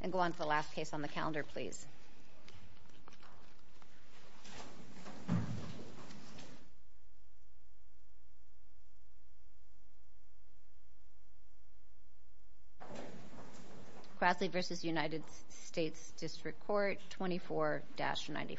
And go on to the last case on the calendar, please. Grassley v. United States District Court, 24-94. Grassley v. United States District Court, 24-94.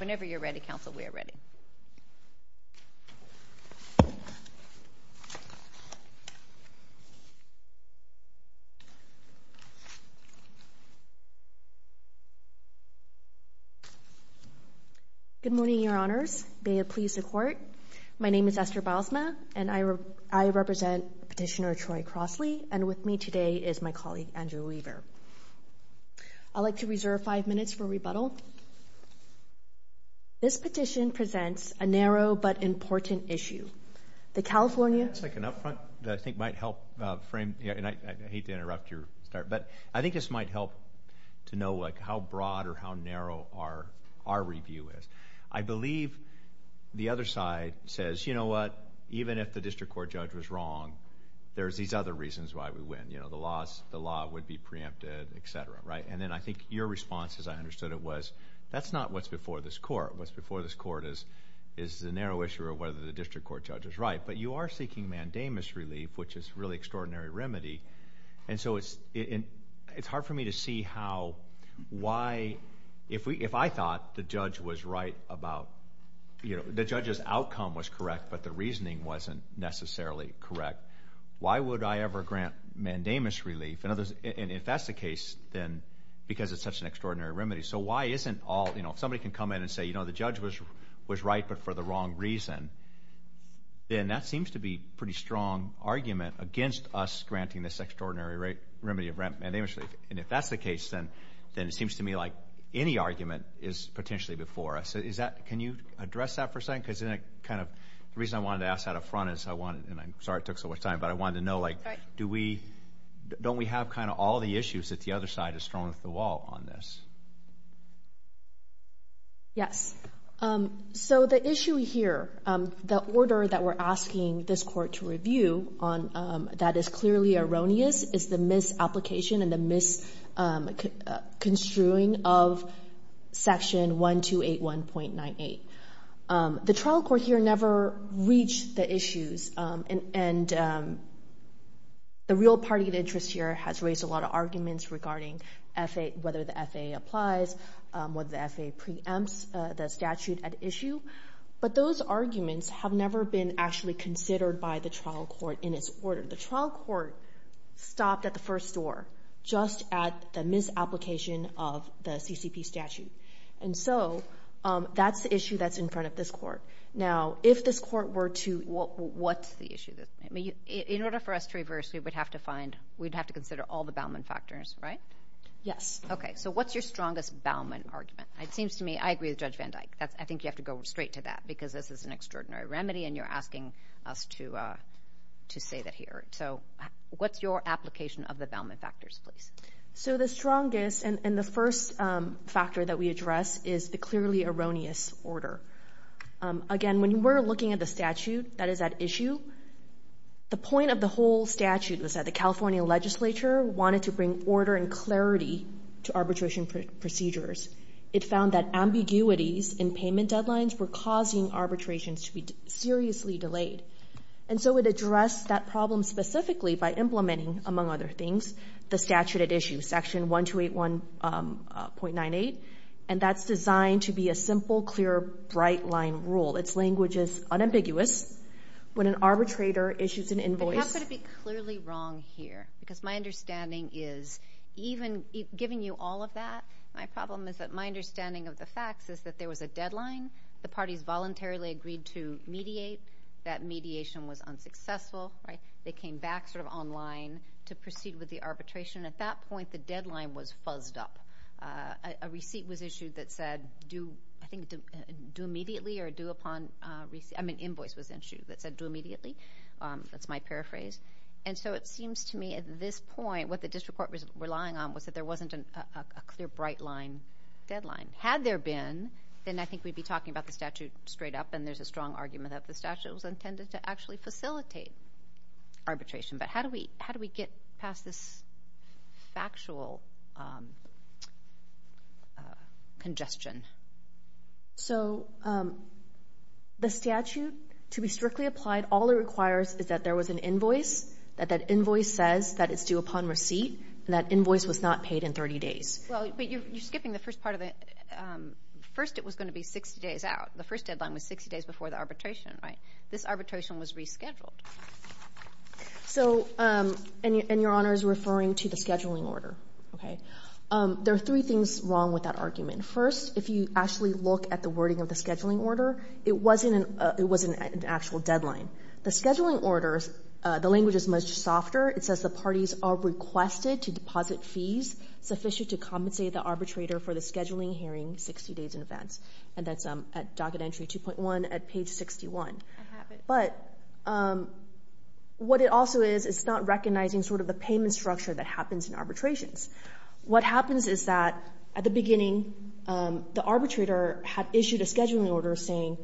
Whenever you're ready, counsel, we are ready. Good morning, Your Honors. May it please the Court, my name is Esther Bilesma and I represent Petitioner Troy Crossley and with me today is my colleague, Andrew Weaver. I'd like to reserve five minutes for rebuttal. This petition presents a narrow but important issue. The California- That's like an up front that I think might help frame, and I hate to interrupt your start, but I think this might help to know like how broad or how narrow our review is. I believe the other side says, you know what, even if the District Court judge was wrong, there's these other reasons why we win, you know, the law would be preempted, etc., right? And then I think your response, as I understood it, was that's not what's before this court. What's before this court is the narrow issue of whether the District Court judge is right. But you are seeking mandamus relief, which is a really extraordinary remedy. And so it's hard for me to see how, why, if I thought the judge was right about, you know, the judge's outcome was correct, but the reasoning wasn't necessarily correct, why would I ever grant mandamus relief? And if that's the case, then, because it's such an extraordinary remedy. So why isn't all, you know, if somebody can come in and say, you know, the judge was right but for the wrong reason, then that seems to be a pretty strong argument against us granting this extraordinary remedy of mandamus relief. And if that's the case, then it seems to me like any argument is potentially before us. Can you address that for a second, because then it kind of, the reason I wanted to ask that up front is I wanted, and I'm sorry it took so much time, but I wanted to know like, do we, don't we have kind of all the issues that the other side has thrown at the wall on this? Yes. So the issue here, the order that we're asking this court to review on that is clearly erroneous is the misapplication and the misconstruing of section 1281.98. The trial court here never reached the issues and the real party of interest here has raised a lot of arguments regarding whether the FAA applies, whether the FAA preempts the statute at issue, but those arguments have never been actually considered by the trial court in its order. The trial court stopped at the first door, just at the misapplication of the CCP statute. And so that's the issue that's in front of this court. Now, if this court were to, what's the issue that, I mean, in order for us to reverse, we would have to find, we'd have to consider all the Bauman factors, right? Yes. Okay. So what's your strongest Bauman argument? It seems to me, I agree with Judge Van Dyke, that's, I think you have to go straight to that because this is an extraordinary remedy and you're asking us to say that here. So what's your application of the Bauman factors, please? So the strongest and the first factor that we address is the clearly erroneous order. Again, when we're looking at the statute that is at issue, the point of the whole statute was that the California legislature wanted to bring order and clarity to arbitration procedures. It found that ambiguities in payment deadlines were causing arbitrations to be seriously delayed. And so it addressed that problem specifically by implementing, among other things, the statute at issue, section 1281.98, and that's designed to be a simple, clear, bright line rule. It's language is unambiguous. When an arbitrator issues an invoice- But how could it be clearly wrong here? Because my understanding is, even giving you all of that, my problem is that my understanding of the facts is that there was a deadline. The parties voluntarily agreed to mediate. That mediation was unsuccessful, right? They came back sort of online to proceed with the arbitration. At that point, the deadline was fuzzed up. A receipt was issued that said, I think, due immediately or due upon receipt. I mean, invoice was issued that said due immediately. That's my paraphrase. And so it seems to me at this point, what the district court was relying on was that there wasn't a clear, bright line deadline. Had there been, then I think we'd be talking about the statute straight up, and there's a strong argument that the statute was intended to actually facilitate arbitration. But how do we get past this factual congestion? So the statute, to be strictly applied, all it requires is that there was an invoice, that that invoice says that it's due upon receipt, and that invoice was not paid in 30 days. Well, but you're skipping the first part of it. First, it was going to be 60 days out. The first deadline was 60 days before the arbitration, right? This arbitration was rescheduled. So, and Your Honor is referring to the scheduling order, okay? There are three things wrong with that argument. First, if you actually look at the wording of the scheduling order, it wasn't an actual deadline. The scheduling orders, the language is much softer. It says the parties are requested to deposit fees sufficient to compensate the arbitrator for the scheduling hearing 60 days in advance. And that's at docket entry 2.1 at page 61. But what it also is, it's not recognizing sort of the payment structure that happens in arbitrations. What happens is that at the beginning, the arbitrator had issued a scheduling order saying,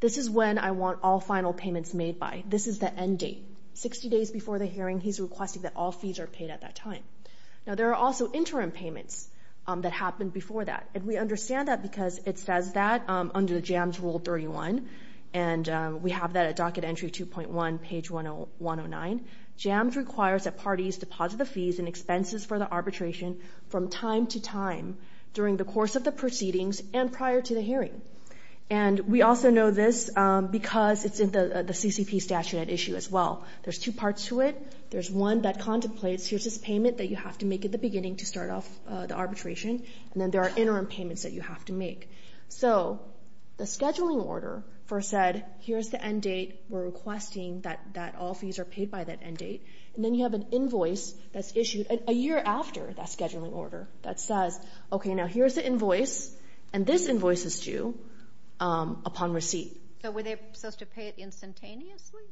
this is when I want all final payments made by. This is the end date. 60 days before the hearing, he's requesting that all fees are paid at that time. Now, there are also interim payments that happened before that. And we understand that because it says that under the JAMS rule 31, and we have that at docket entry 2.1, page 10109. JAMS requires that parties deposit the fees and expenses for the arbitration from time to time during the course of the proceedings and prior to the hearing. And we also know this because it's in the CCP statute at issue as well. There's two parts to it. There's one that contemplates, here's this payment that you have to make at the beginning to start off the arbitration. And then there are interim payments that you have to make. So the scheduling order first said, here's the end date. We're requesting that all fees are paid by that end date. And then you have an invoice that's issued a year after that scheduling order that says, OK, now here's the invoice. And this invoice is due upon receipt. So were they supposed to pay it instantaneously?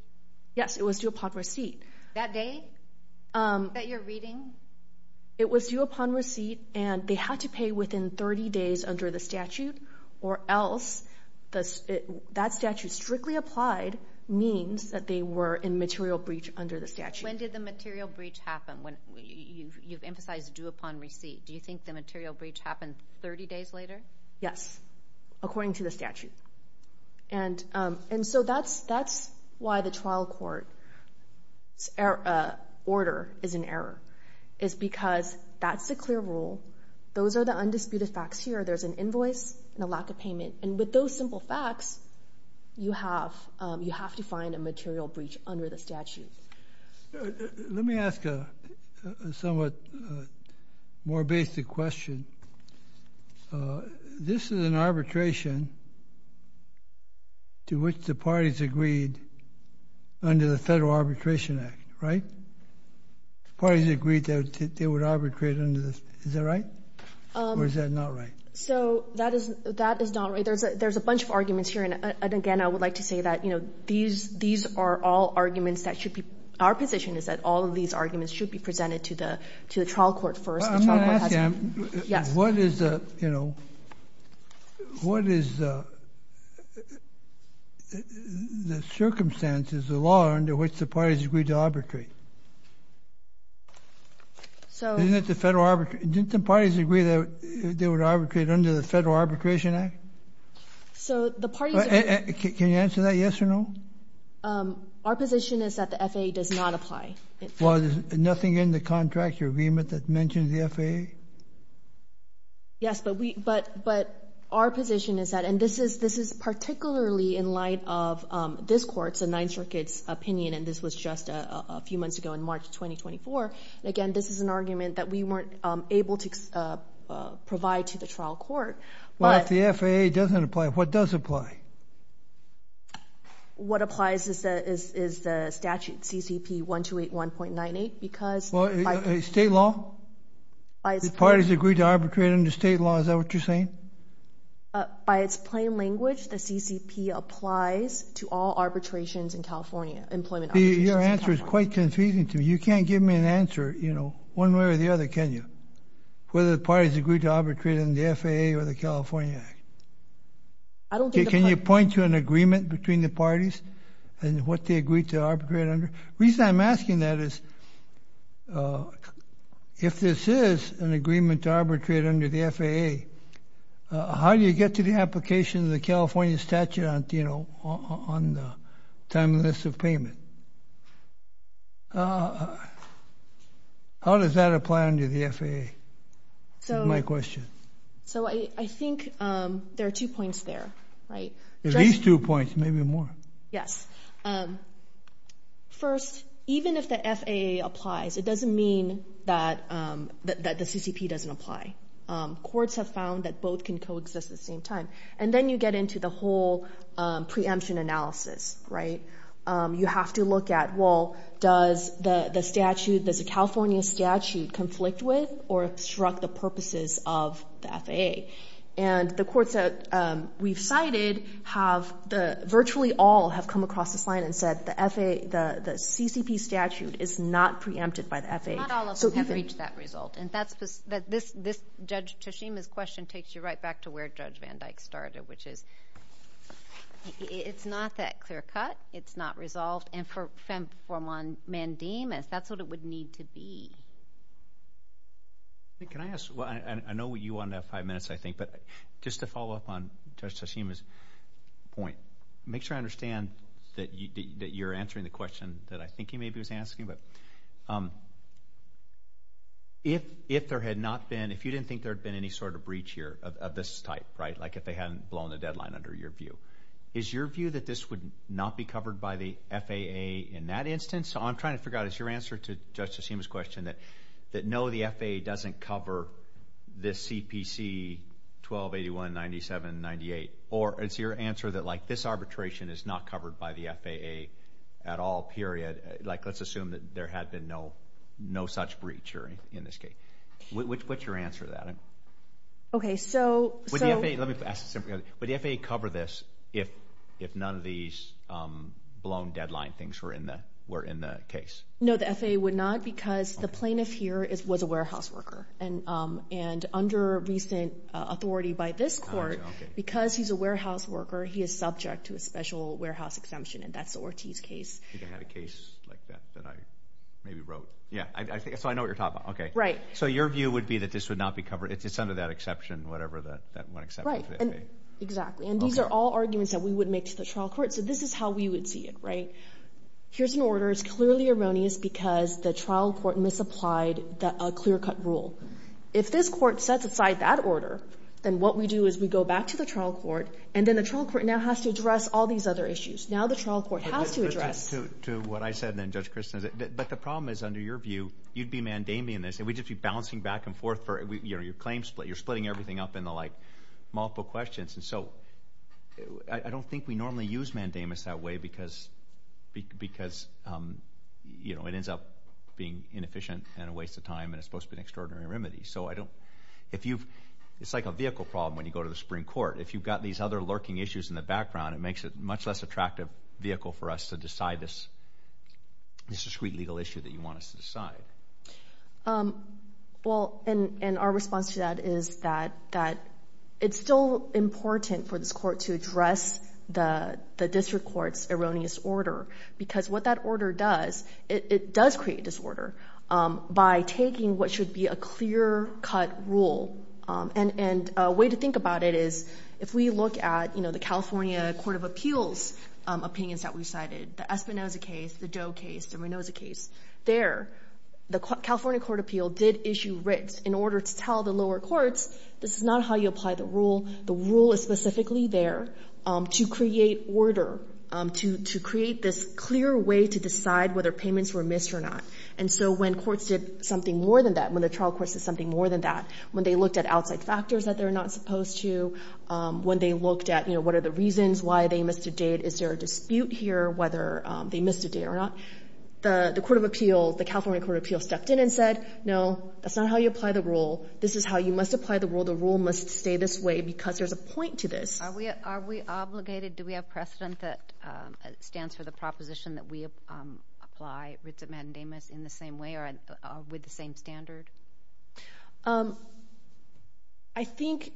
Yes, it was due upon receipt. That date that you're reading? It was due upon receipt, and they had to pay within 30 days under the statute, or else that statute strictly applied means that they were in material breach under the statute. When did the material breach happen? You've emphasized due upon receipt. Do you think the material breach happened 30 days later? Yes, according to the statute. And so that's why the trial court order is an error. It's because that's the clear rule. Those are the undisputed facts here. There's an invoice and a lack of payment. And with those simple facts, you have to find a material breach under the statute. Let me ask a somewhat more basic question. This is an arbitration to which the parties agreed under the Federal Arbitration Act, right? Parties agreed that they would arbitrate under this. Is that right? Or is that not right? So that is not right. There's a bunch of arguments here. And again, I would like to say that these are all arguments that should be... Our position is that all of these arguments should be presented to the trial court first. I'm going to ask you, what is the circumstances, the law under which the parties agreed to arbitrate? Didn't the parties agree that they would arbitrate under the Federal Arbitration Act? So the parties... Can you answer that yes or no? Our position is that the FAA does not apply. Well, there's nothing in the contract or agreement that mentions the FAA? Yes, but our position is that... And this is particularly in light of this court's, the Ninth Circuit's opinion. And this was just a few months ago in March 2024. And again, this is an argument that we weren't able to provide to the trial court. Well, if the FAA doesn't apply, what does apply? What applies is the statute, CCP 1281.98, because... Well, state law? Parties agreed to arbitrate under state law. Is that what you're saying? But by its plain language, the CCP applies to all arbitrations in California, employment arbitrations in California. Your answer is quite confusing to me. You can't give me an answer, you know, one way or the other, can you? Whether the parties agreed to arbitrate in the FAA or the California Act. Can you point to an agreement between the parties and what they agreed to arbitrate under? The reason I'm asking that is, if this is an agreement to arbitrate under the FAA, how do you get to the application of the California statute on the time and list of payment? How does that apply under the FAA, is my question? So I think there are two points there, right? At least two points, maybe more. Yes. First, even if the FAA applies, it doesn't mean that the CCP doesn't apply. Courts have found that both can coexist at the same time. And then you get into the whole preemption analysis, right? You have to look at, well, does the statute, does the California statute conflict with or obstruct the purposes of the FAA? And the courts that we've cited have, virtually all have come across this line and said the CCP statute is not preempted by the FAA. Not all of us have reached that result. And this Judge Toshima's question takes you right back to where Judge Van Dyke started, which is, it's not that clear cut. It's not resolved. And for Mandamus, that's what it would need to be. Can I ask, well, I know you wanted to have five minutes, I think, but just to follow up on Judge Toshima's point, make sure I understand that you're answering the question that I think he maybe was asking. But if there had not been, if you didn't think there'd been any sort of breach here of this type, right, like if they hadn't blown the deadline under your view, is your view that this would not be covered by the FAA in that instance? So I'm trying to figure out, is your answer to Judge Toshima's question that no, the FAA doesn't cover this CPC 1281, 97, 98? Or is your answer that like this arbitration is not covered by the FAA at all, period? Like, let's assume that there had been no such breach in this case. What's your answer to that? Okay, so... Would the FAA, let me ask this simply, would the FAA cover this if none of these blown deadline things were in the case? No, the FAA would not because the plaintiff here was a warehouse worker. And under recent authority by this court, because he's a warehouse worker, he is subject to a special warehouse exemption. And that's the Ortiz case. I think I had a case like that that I maybe wrote. Yeah, so I know what you're talking about. Okay. Right. So your view would be that this would not be covered. It's under that exception, whatever that one exception is. Right, exactly. And these are all arguments that we would make to the trial court. So this is how we would see it, right? Here's an order. It's clearly erroneous because the trial court misapplied a clear-cut rule. If this court sets aside that order, then what we do is we go back to the trial court, and then the trial court now has to address all these other issues. Now the trial court has to address... To what I said then, Judge Kristen, but the problem is, under your view, you'd be mandaming this, and we'd just be bouncing back and forth for your claim split. You're splitting everything up into multiple questions. And so I don't think we normally use mandamus that way because it ends up being inefficient and a waste of time, and it's supposed to be an extraordinary remedy. So it's like a vehicle problem when you go to the Supreme Court. If you've got these other lurking issues in the background, it makes it a much less attractive vehicle for us to decide this discreet legal issue that you want us to decide. Well, and our response to that is that it's still important for this court to address the district court's erroneous order because what that order does, it does create disorder by taking what should be a clear-cut rule. And a way to think about it is, if we look at the California Court of Appeals opinions that we've cited, the Espinoza case, the Doe case, the Rinoza case, there, the California Court of Appeals did issue writs in order to tell the lower courts, this is not how you apply the rule. The rule is specifically there to create order, to create this clear way to decide whether payments were missed or not. And so when courts did something more than that, when the trial courts did something more than that, when they looked at outside factors that they're not supposed to, when they looked at, you know, what are the reasons why they missed a date, is there a dispute here whether they missed a date or not, the Court of Appeals, the California Court of Appeals stepped in and said, no, that's not how you apply the rule. This is how you must apply the rule. The rule must stay this way because there's a point to this. Are we obligated, do we have precedent that stands for the proposition that we apply writs of mandamus in the same way or with the same standard? I think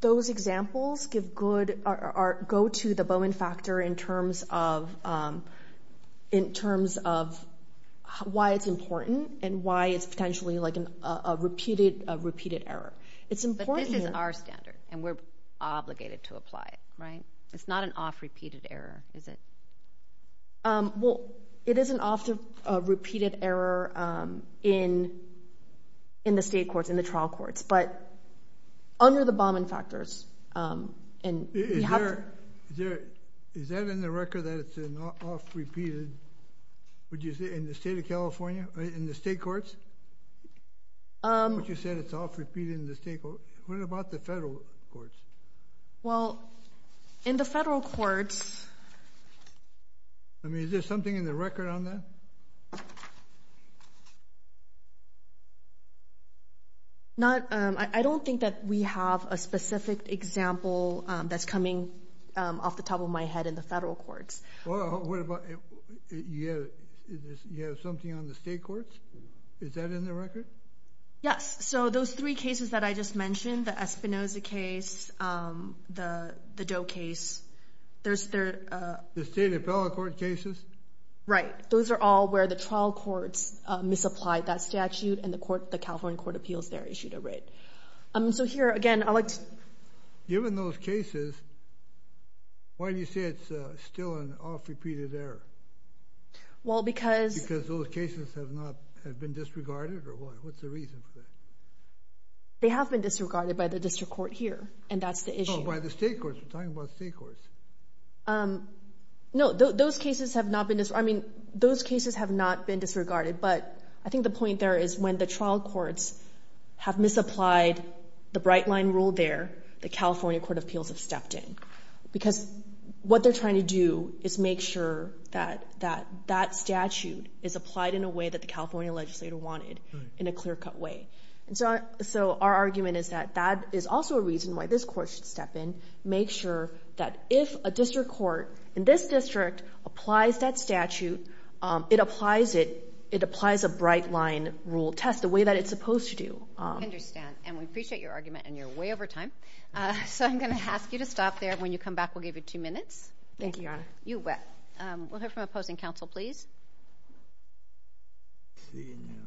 those examples give good, go to the Bowen factor in terms of, in terms of why it's important and why it's potentially like a repeated error. But this is our standard and we're obligated to apply it, right? It's not an off-repeated error, is it? Well, it is an off-repeated error in, in the state courts, in the trial courts, but under the Bowen factors and we have to... Is there, is there, is that in the record that it's an off-repeated, would you say in the state of California, in the state courts? What you said, it's off-repeated in the state courts. What about the federal courts? Well, in the federal courts... I mean, is there something in the record on that? Not, I don't think that we have a specific example that's coming off the top of my head in the federal courts. Well, what about, you have, is this, you have something on the state courts? Is that in the record? Yes. So those three cases that I just mentioned, the Espinoza case, the Doe case, there's their... The state appellate court cases? Right. Those are all where the trial courts misapplied that statute and the court, the California Court of Appeals there issued a writ. So here, again, I like to... Given those cases, why do you say it's still an off-repeated error? Well, because... Those cases have not been disregarded or what? What's the reason for that? They have been disregarded by the district court here. And that's the issue. Oh, by the state courts. We're talking about state courts. No, those cases have not been disregarded. I mean, those cases have not been disregarded. But I think the point there is when the trial courts have misapplied the bright line rule there, the California Court of Appeals have stepped in. Because what they're trying to do is make sure that that statute is applied in a way that the California legislator wanted, in a clear-cut way. And so our argument is that that is also a reason why this court should step in, make sure that if a district court in this district applies that statute, it applies a bright line rule test the way that it's supposed to do. I understand. And we appreciate your argument. And you're way over time. So I'm going to ask you to stop there. When you come back, we'll give you two minutes. Thank you, Your Honor. You bet. We'll hear from opposing counsel, please. Thank you, Your Honor.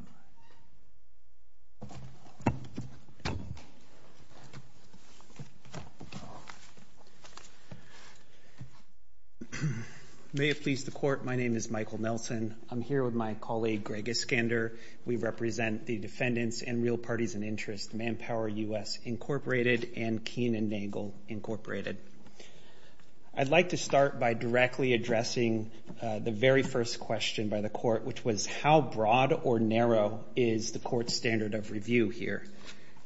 May it please the Court. My name is Michael Nelson. I'm here with my colleague, Greg Iskander. We represent the defendants and real parties in interest, Manpower U.S. Incorporated and Keen and Nagle Incorporated. I'd like to start by directly addressing the very first question by the court, which was how broad or narrow is the court's standard of review here?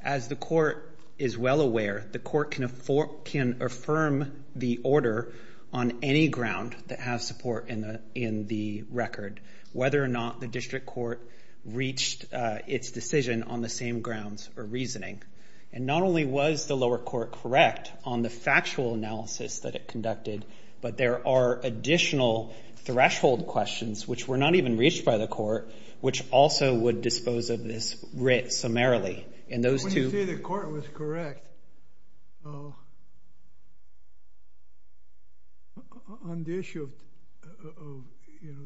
As the court is well aware, the court can affirm the order on any ground that has support in the record, whether or not the district court reached its decision on the same grounds or reasoning. And not only was the lower court correct on the factual analysis that it conducted, but there are additional threshold questions, which were not even reached by the court, which also would dispose of this writ summarily. When you say the court was correct on the issue of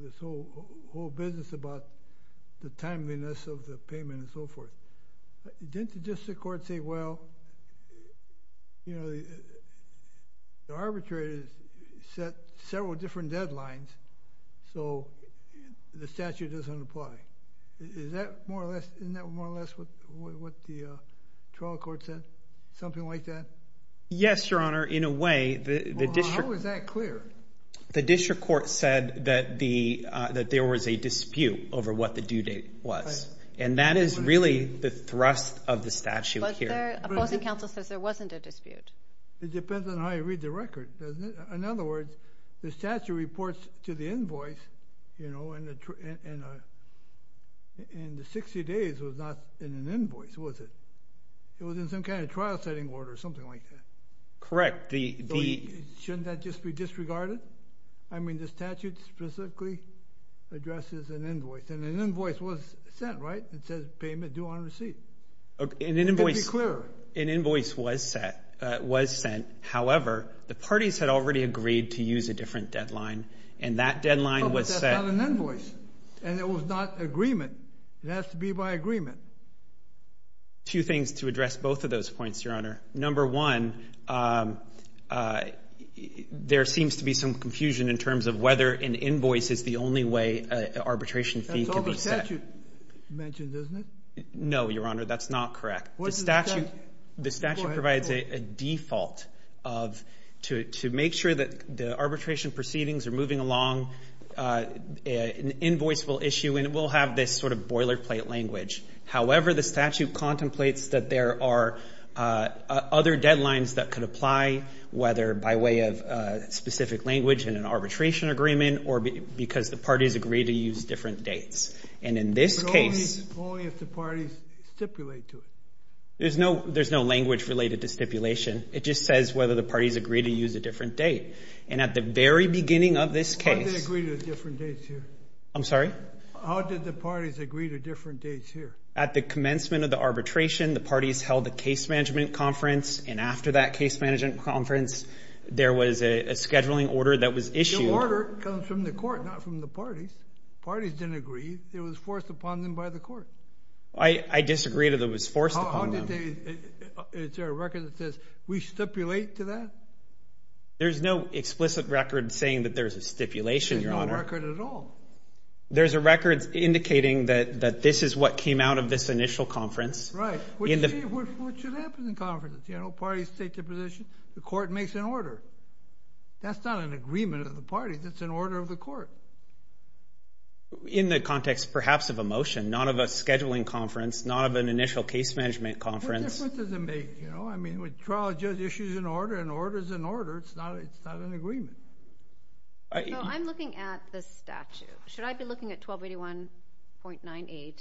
this whole business about the timeliness of the payment and so forth, didn't the district court say, well, the arbitrator set several different deadlines, so the statute doesn't apply? Isn't that more or less what the trial court said? Something like that? Yes, Your Honor. In a way, the district court said that there was a dispute over what the due date was. And that is really the thrust of the statute here. Opposing counsel says there wasn't a dispute. It depends on how you read the record, doesn't it? In other words, the statute reports to the invoice, and the 60 days was not in an invoice, was it? It was in some kind of trial setting order or something like that. Correct. Shouldn't that just be disregarded? I mean, the statute specifically addresses an invoice, and an invoice was sent, right? It says payment due on receipt. An invoice was sent. However, the parties had already agreed to use a different deadline, and that deadline was set. But that's not an invoice, and it was not agreement. It has to be by agreement. Two things to address both of those points, Your Honor. Number one, there seems to be some confusion in terms of whether an invoice is the only way an arbitration fee can be set. That's all the statute mentioned, isn't it? No, Your Honor. That's not correct. The statute provides a default to make sure that the arbitration proceedings are moving along an invoice will issue, and it will have this sort of boilerplate language. However, the statute contemplates that there are other deadlines that could apply, whether by way of a specific language in an arbitration agreement, or because the parties agree to use different dates. And in this case. Only if the parties stipulate to it. There's no language related to stipulation. It just says whether the parties agree to use a different date. And at the very beginning of this case. How did they agree to different dates here? I'm sorry? How did the parties agree to different dates here? At the commencement of the arbitration, the parties held the case management conference, and after that case management conference, there was a scheduling order that was issued. The order comes from the court, not from the parties. Parties didn't agree. It was forced upon them by the court. I disagree that it was forced upon them. Is there a record that says we stipulate to that? There's no explicit record saying that there's a stipulation. There's no record at all. There's a record indicating that this is what came out of this initial conference. Right. What should happen in conferences? You know, parties take their position. The court makes an order. That's not an agreement of the parties. It's an order of the court. In the context, perhaps, of a motion. Not of a scheduling conference. Not of an initial case management conference. What difference does it make? You know, I mean, with trial, judge, issues in order, and orders in order. It's not an agreement. No, I'm looking at the statute. Should I be looking at 1281.98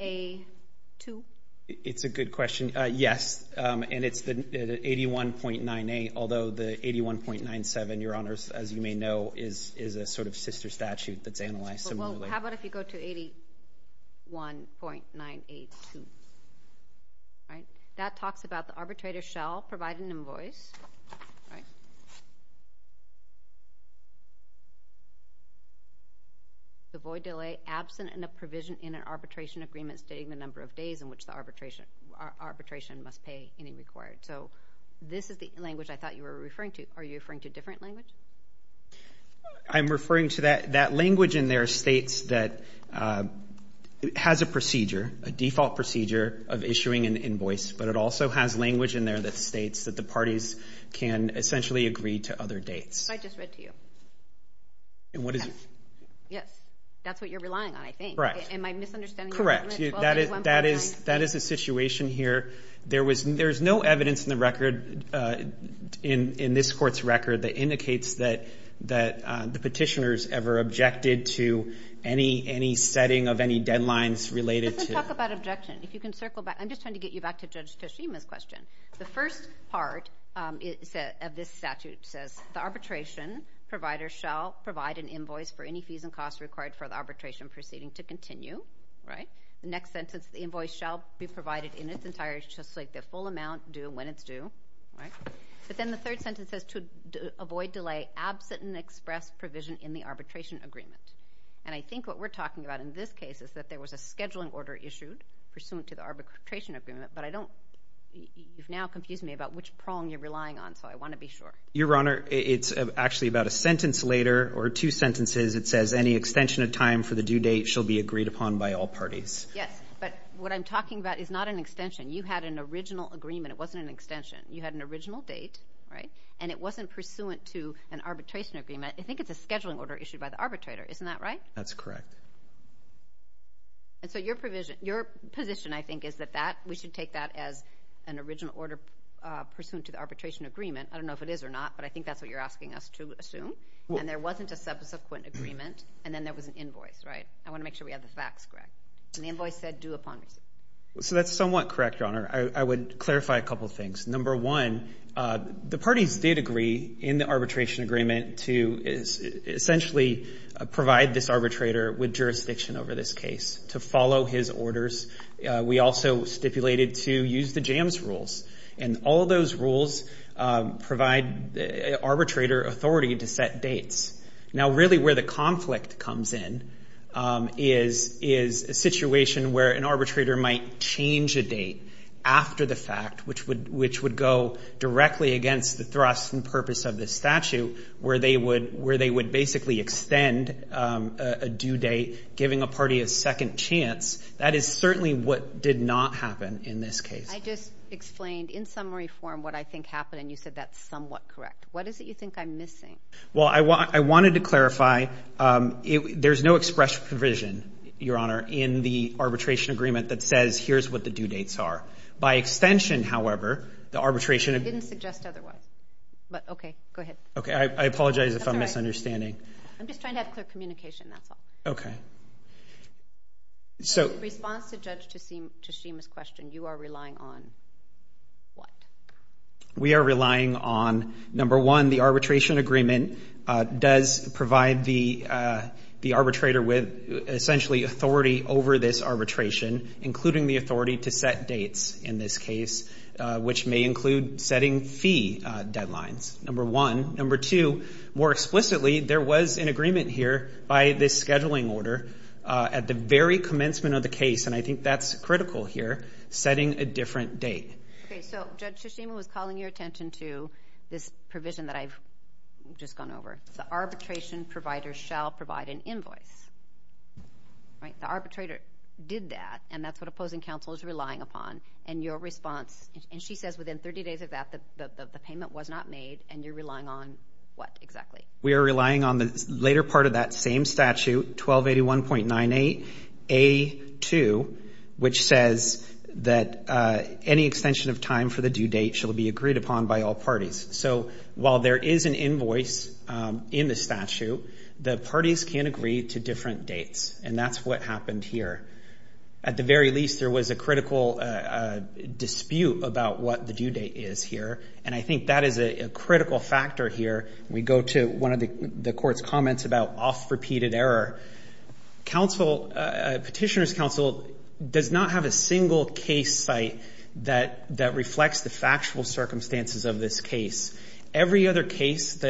AA2? It's a good question. Yes, and it's the 81.98. Although the 81.97, Your Honors, as you may know, is a sort of sister statute that's analyzed similarly. How about if you go to 81.982, right? That talks about the arbitrator shall provide an invoice. The void delay absent in a provision in an arbitration agreement stating the number of days in which the arbitration must pay any required. So this is the language I thought you were referring to. Are you referring to a different language? I'm referring to that language in there states that it has a procedure, a default procedure, of issuing an invoice. But it also has language in there that states that the parties can essentially agree to other dates. I just read to you. And what is it? Yes, that's what you're relying on, I think. Correct. Am I misunderstanding? Correct, that is the situation here. There's no evidence in the record, in this court's record, that indicates that the petitioners ever objected to any setting of any deadlines related to. Let's talk about objection. If you can circle back. I'm just trying to get you back to Judge Toshima's question. The first part of this statute says, the arbitration provider shall provide an invoice for any fees and costs required for the arbitration proceeding to continue. The next sentence, the invoice shall be provided in its entirety, just like the full amount, due when it's due. But then the third sentence says, to avoid delay, absent an express provision in the arbitration agreement. And I think what we're talking about in this case is that there was a scheduling order issued pursuant to the arbitration agreement. But I don't, you've now confused me about which prong you're relying on. So I want to be sure. Your Honor, it's actually about a sentence later, or two sentences. It says, any extension of time for the due date shall be agreed upon by all parties. Yes, but what I'm talking about is not an extension. You had an original agreement. It wasn't an extension. You had an original date, right? And it wasn't pursuant to an arbitration agreement. I think it's a scheduling order issued by the arbitrator. Isn't that right? That's correct. And so your position, I think, is that we should take that as an original order pursuant to the arbitration agreement. I don't know if it is or not, but I think that's what you're asking us to assume. And there wasn't a subsequent agreement. And then there was an invoice, right? I want to make sure we have the facts correct. And the invoice said due upon receipt. So that's somewhat correct, Your Honor. I would clarify a couple of things. Number one, the parties did agree in the arbitration agreement to essentially provide this arbitrator with jurisdiction over this case to follow his orders. We also stipulated to use the jams rules. And all of those rules provide arbitrator authority to set dates. Now, really where the conflict comes in is a situation where an arbitrator might change a date after the fact, which would go directly against the thrust and purpose of this statute, where they would basically extend a due date, giving a party a second chance. That is certainly what did not happen in this case. I just explained in summary form what I think happened, and you said that's somewhat correct. What is it you think I'm missing? Well, I wanted to clarify, there's no express provision, Your Honor, in the arbitration agreement that says, here's what the due dates are. By extension, however, the arbitration... I didn't suggest otherwise. But okay, go ahead. Okay, I apologize if I'm misunderstanding. I'm just trying to have clear communication, that's all. Okay. So... In response to Judge Teshima's question, you are relying on what? We are relying on, number one, the arbitration agreement does provide the arbitrator with essentially authority over this arbitration, including the authority to set dates in this case, which may include setting fee deadlines, number one. Number two, more explicitly, there was an agreement here by this scheduling order at the very commencement of the case, and I think that's critical here, setting a different date. Okay, so Judge Teshima was calling your attention to this provision that I've just gone over. The arbitration provider shall provide an invoice. All right, the arbitrator did that, and that's what opposing counsel is relying upon. And your response... And she says within 30 days of that, the payment was not made, and you're relying on what exactly? We are relying on the later part of that same statute, 1281.98A2, which says that any extension of time for the due date shall be agreed upon by all parties. So while there is an invoice in the statute, the parties can agree to different dates, and that's what happened here. At the very least, there was a critical dispute about what the due date is here, and I think that is a critical factor here. We go to one of the court's comments about off-repeated error. Petitioner's counsel does not have a single case site that reflects the factual circumstances of this case. Every other case,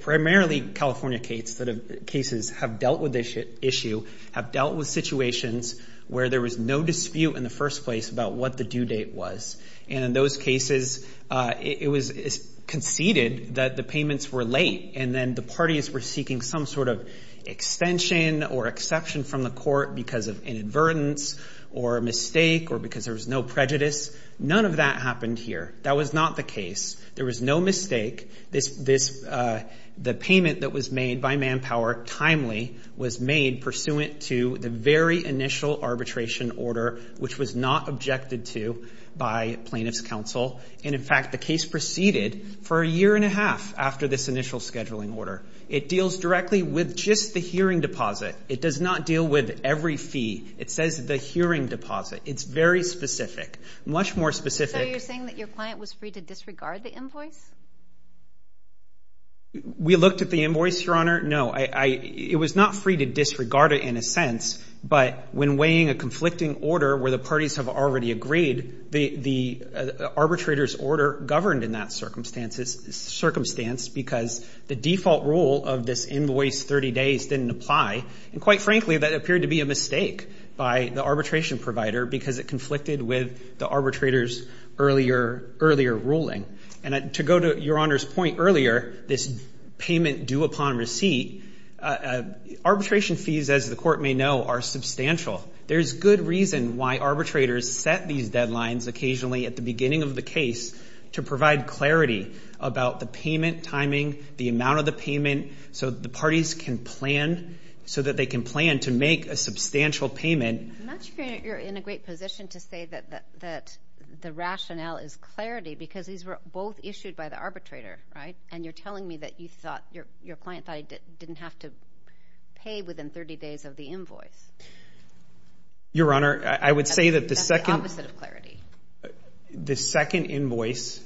primarily California case, cases have dealt with this issue, have dealt with situations where there was no dispute in the first place about what the due date was. And in those cases, it was conceded that the payments were late, and then the parties were seeking some sort of extension or exception from the court because of inadvertence or a mistake or because there was no prejudice. None of that happened here. That was not the case. There was no mistake. This, the payment that was made by Manpower, timely, was made pursuant to the very initial arbitration order, which was not objected to by plaintiff's counsel. And in fact, the case proceeded for a year and a half after this initial scheduling order. It deals directly with just the hearing deposit. It does not deal with every fee. It says the hearing deposit. It's very specific, much more specific. So you're saying that your client was free to disregard the invoice? We looked at the invoice, Your Honor. No, it was not free to disregard it in a sense, but when weighing a conflicting order where the parties have already agreed, the arbitrator's order governed in that circumstance because the default rule of this invoice 30 days didn't apply. And quite frankly, that appeared to be a mistake by the arbitration provider because it conflicted with the arbitrator's earlier ruling. And to go to Your Honor's point earlier, this payment due upon receipt, arbitration fees, as the court may know, are substantial. There's good reason why arbitrators set these deadlines occasionally at the beginning of the case to provide clarity about the payment timing, the amount of the payment, so that the parties can plan, so that they can plan to make a substantial payment. I'm not sure you're in a great position to say that the rationale is clarity because these were both issued by the arbitrator, right? And you're telling me that you thought, your client thought he didn't have to pay within 30 days of the invoice. Your Honor, I would say that the second... That's the opposite of clarity. The second invoice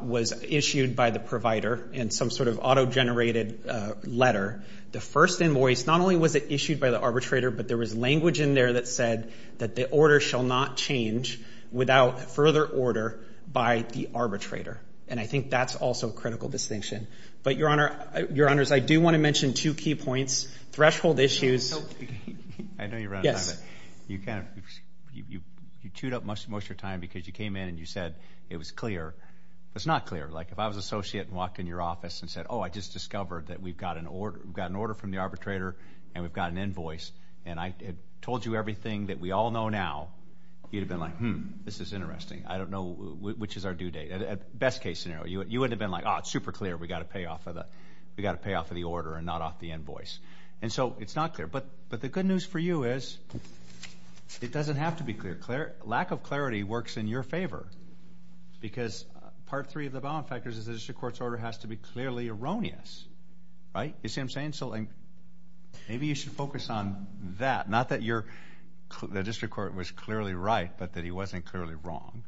was issued by the provider in some sort of auto-generated letter. The first invoice, not only was it issued by the arbitrator, but there was language in there that said that the order shall not change without further order by the arbitrator. And I think that's also a critical distinction. But, Your Honor, Your Honors, I do want to mention two key points. Threshold issues... So, I know you're running out of time, but you chewed up most of your time because you came in and you said it was clear. It's not clear. Like, if I was an associate and walked in your office and said, oh, I just discovered that we've got an order from the arbitrator and we've got an invoice and I told you everything that we all know now, you'd have been like, hmm, this is interesting. I don't know which is our due date. At best case scenario, you would have been like, oh, it's super clear. We've got to pay off of the order and not off the invoice. And so, it's not clear. But the good news for you is it doesn't have to be clear. Lack of clarity works in your favor because part three of the bound factors is the district court's order has to be clearly erroneous, right? You see what I'm saying? So, maybe you should focus on that, not that the district court was clearly right, but that he wasn't clearly wrong.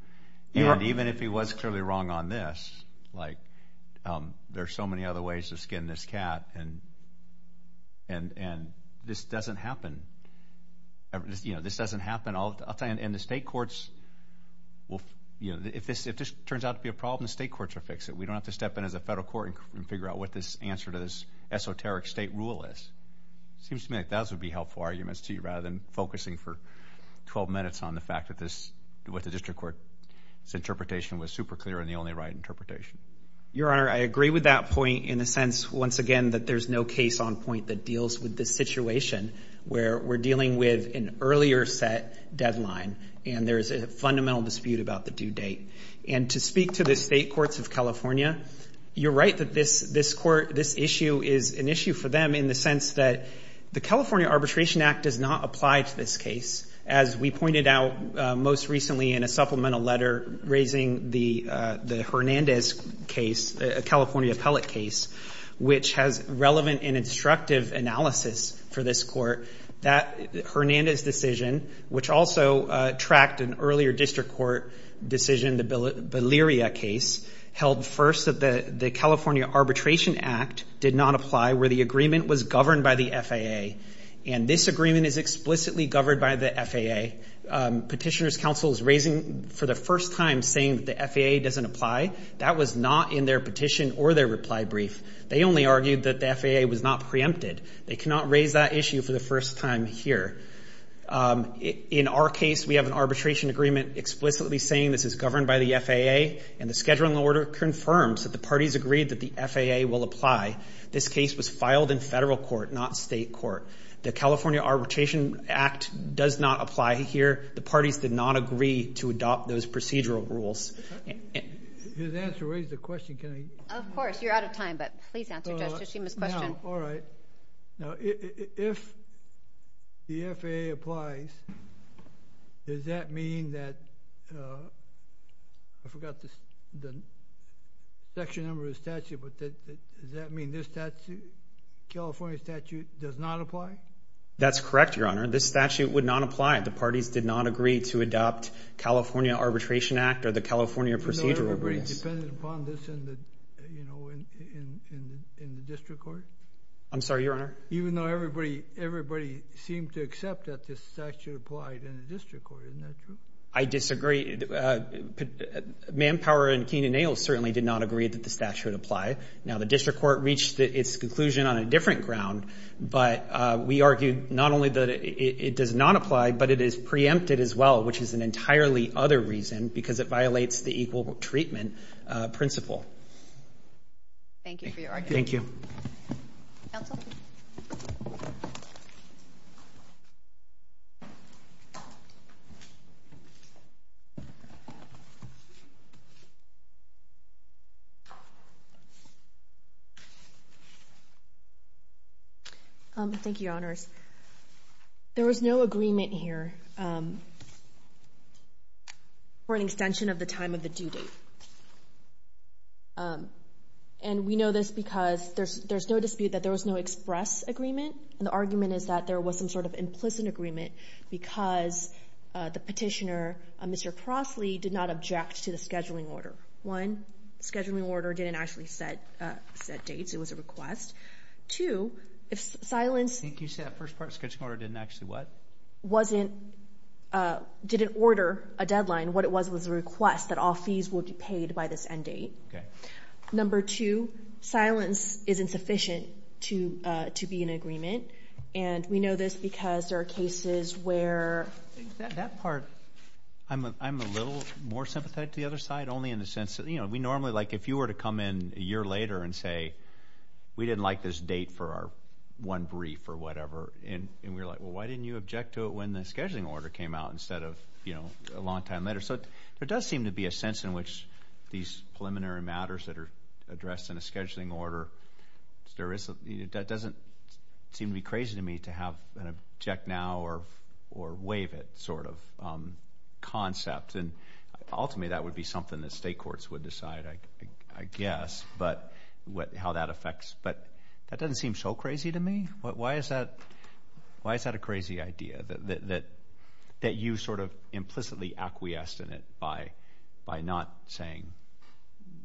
And even if he was clearly wrong on this, like, there's so many other ways to skin this cat and this doesn't happen all the time. And the state courts will, if this turns out to be a problem, the state courts will fix it. We don't have to step in as a federal court and figure out what this answer to this esoteric state rule is. It seems to me like those would be helpful arguments rather than focusing for 12 minutes on the fact that what the district court's interpretation was super clear and the only right interpretation. Your Honor, I agree with that point in the sense, once again, that there's no case on point that deals with this situation where we're dealing with an earlier set deadline and there's a fundamental dispute about the due date. And to speak to the state courts of California, you're right that this issue is an issue for them in the sense that the California Arbitration Act does not apply to this case. As we pointed out most recently in a supplemental letter raising the Hernandez case, a California appellate case, which has relevant and instructive analysis for this court, that Hernandez decision, which also tracked an earlier district court decision, the Beleria case, held first that the California Arbitration Act did not apply where the agreement was governed by the FAA. And this agreement is explicitly governed by the FAA. Petitioners' counsel is raising for the first time saying that the FAA doesn't apply. That was not in their petition or their reply brief. They only argued that the FAA was not preempted. They cannot raise that issue for the first time here. In our case, we have an arbitration agreement explicitly saying this is governed by the FAA and the scheduling order confirms that the parties agreed that the FAA will apply. This case was filed in federal court, not state court. The California Arbitration Act does not apply here. The parties did not agree to adopt those procedural rules. His answer raised a question. Can I? Of course, you're out of time, but please answer Judge Tshishima's question. All right. Now, if the FAA applies, does that mean that, I forgot the section number of the statute, but does that mean this California statute does not apply? That's correct, Your Honor. This statute would not apply. The parties did not agree to adopt California Arbitration Act or the California procedural rules. Even though everybody depended upon this in the district court? I'm sorry, Your Honor? Even though everybody seemed to accept that this statute applied in the district court. Isn't that true? I disagree. Manpower and Keenan Ailes certainly did not agree that the statute would apply. Now, the district court reached its conclusion on a different ground, but we argued not only that it does not apply, but it is preempted as well, which is an entirely other reason because it violates the equal treatment principle. Thank you for your argument. Thank you. Counsel? Thank you, Your Honors. There was no agreement here for an extension of the time of the due date. And we know this because there's no dispute that there was no express agreement. And the argument is that there was some sort of implicit agreement because the petitioner, Mr. Crossley, did not object to the scheduling order. One, the scheduling order didn't actually set dates. It was a request. Two, if silence... Can you say that first part? Scheduling order didn't actually what? Wasn't... Didn't order a deadline. What it was was a request that all fees will be paid by this end date. Okay. Number two, silence isn't sufficient to be in agreement. And we know this because there are cases where... That part, I'm a little more sympathetic to the other side, only in the sense that, you know, we normally, like, if you were to come in a year later and say, we didn't like this date for our one brief or whatever, and we were like, well, why didn't you object to it when the scheduling order came out instead of, you know, a long time later? So there does seem to be a sense in which these preliminary matters that are addressed in a scheduling order, that doesn't seem to be crazy to me to have an object now or waive it sort of concept. And ultimately, that would be something that state courts would decide, I guess, but how that affects. But that doesn't seem so crazy to me. Why is that a crazy idea that you sort of implicitly acquiesced in it by not saying,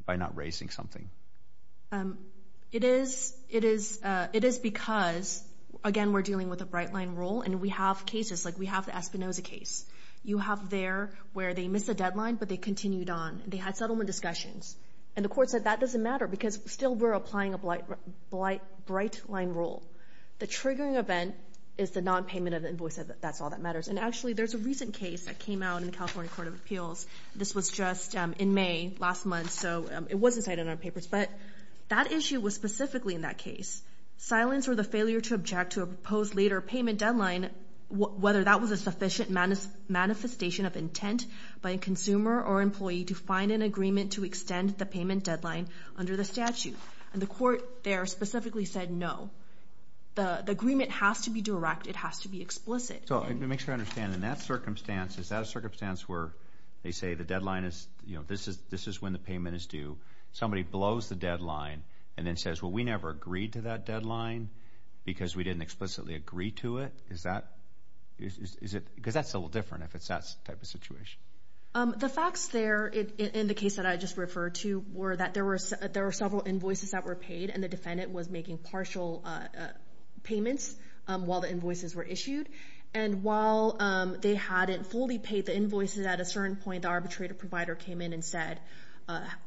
by not raising something? It is because, again, we're dealing with a bright line rule and we have cases, like we have the Espinoza case. You have there where they missed a deadline, but they continued on. They had settlement discussions. And the court said that doesn't matter because still we're applying a bright line rule. The triggering event is the non-payment of the invoice. That's all that matters. And actually, there's a recent case that came out in the California Court of Appeals. This was just in May, last month. So it wasn't cited in our papers, but that issue was specifically in that case. Silence or the failure to object to a proposed later payment deadline, whether that was a sufficient manifestation of intent by a consumer or employee to find an agreement to extend the payment deadline under the statute. And the court there specifically said no. The agreement has to be direct. It has to be explicit. So let me make sure I understand. In that circumstance, is that a circumstance where they say the deadline is, you know, this is when the payment is due. Somebody blows the deadline and then says, well, we never agreed to that deadline because we didn't explicitly agree to it. Is that, is it, because that's a little different if it's that type of situation. The facts there in the case that I just referred to were that there were several invoices that were paid and the defendant was making partial payments while the invoices were issued. And while they hadn't fully paid the invoices at a certain point, the arbitrator provider came in and said,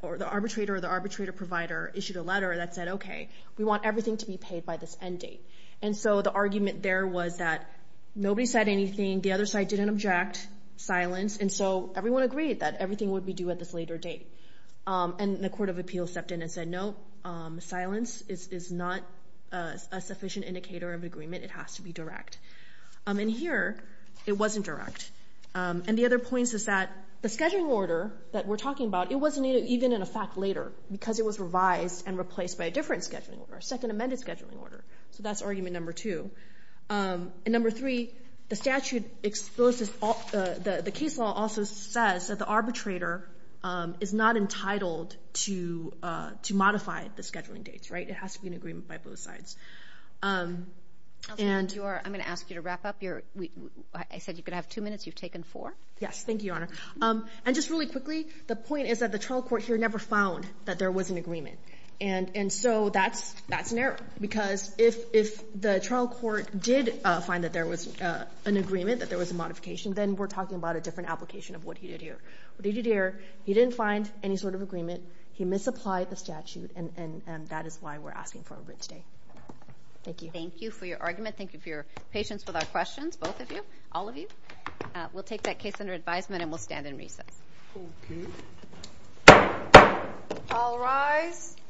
or the arbitrator or the arbitrator provider issued a letter that said, okay, we want everything to be paid by this end date. And so the argument there was that nobody said anything. The other side didn't object, silence. And so everyone agreed that everything would be due at this later date. And the court of appeals stepped in and said, no, silence is not a sufficient indicator of agreement. It has to be direct. And here it wasn't direct. And the other point is that the scheduling order that we're talking about, it wasn't even in effect later because it was revised and replaced by a different scheduling order, a second amended scheduling order. So that's argument number two. And number three, the statute exposes, the case law also says that the arbitrator is not entitled to modify the scheduling dates, right? It has to be an agreement by both sides. And you are, I'm going to ask you to wrap up your, I said you could have two minutes. You've taken four. Yes. Thank you, Your Honor. And just really quickly, the point is that the trial court here never found that there was an agreement. And so that's an error because if the trial court did find that there was an agreement, that there was a modification, then we're talking about a different application of what he did here. What he did here, he didn't find any sort of agreement. He misapplied the statute. And that is why we're asking for a writ today. Thank you. Thank you for your argument. Thank you for your patience with our questions, both of you, all of you. We'll take that case under advisement and we'll stand in recess. Okay. All rise.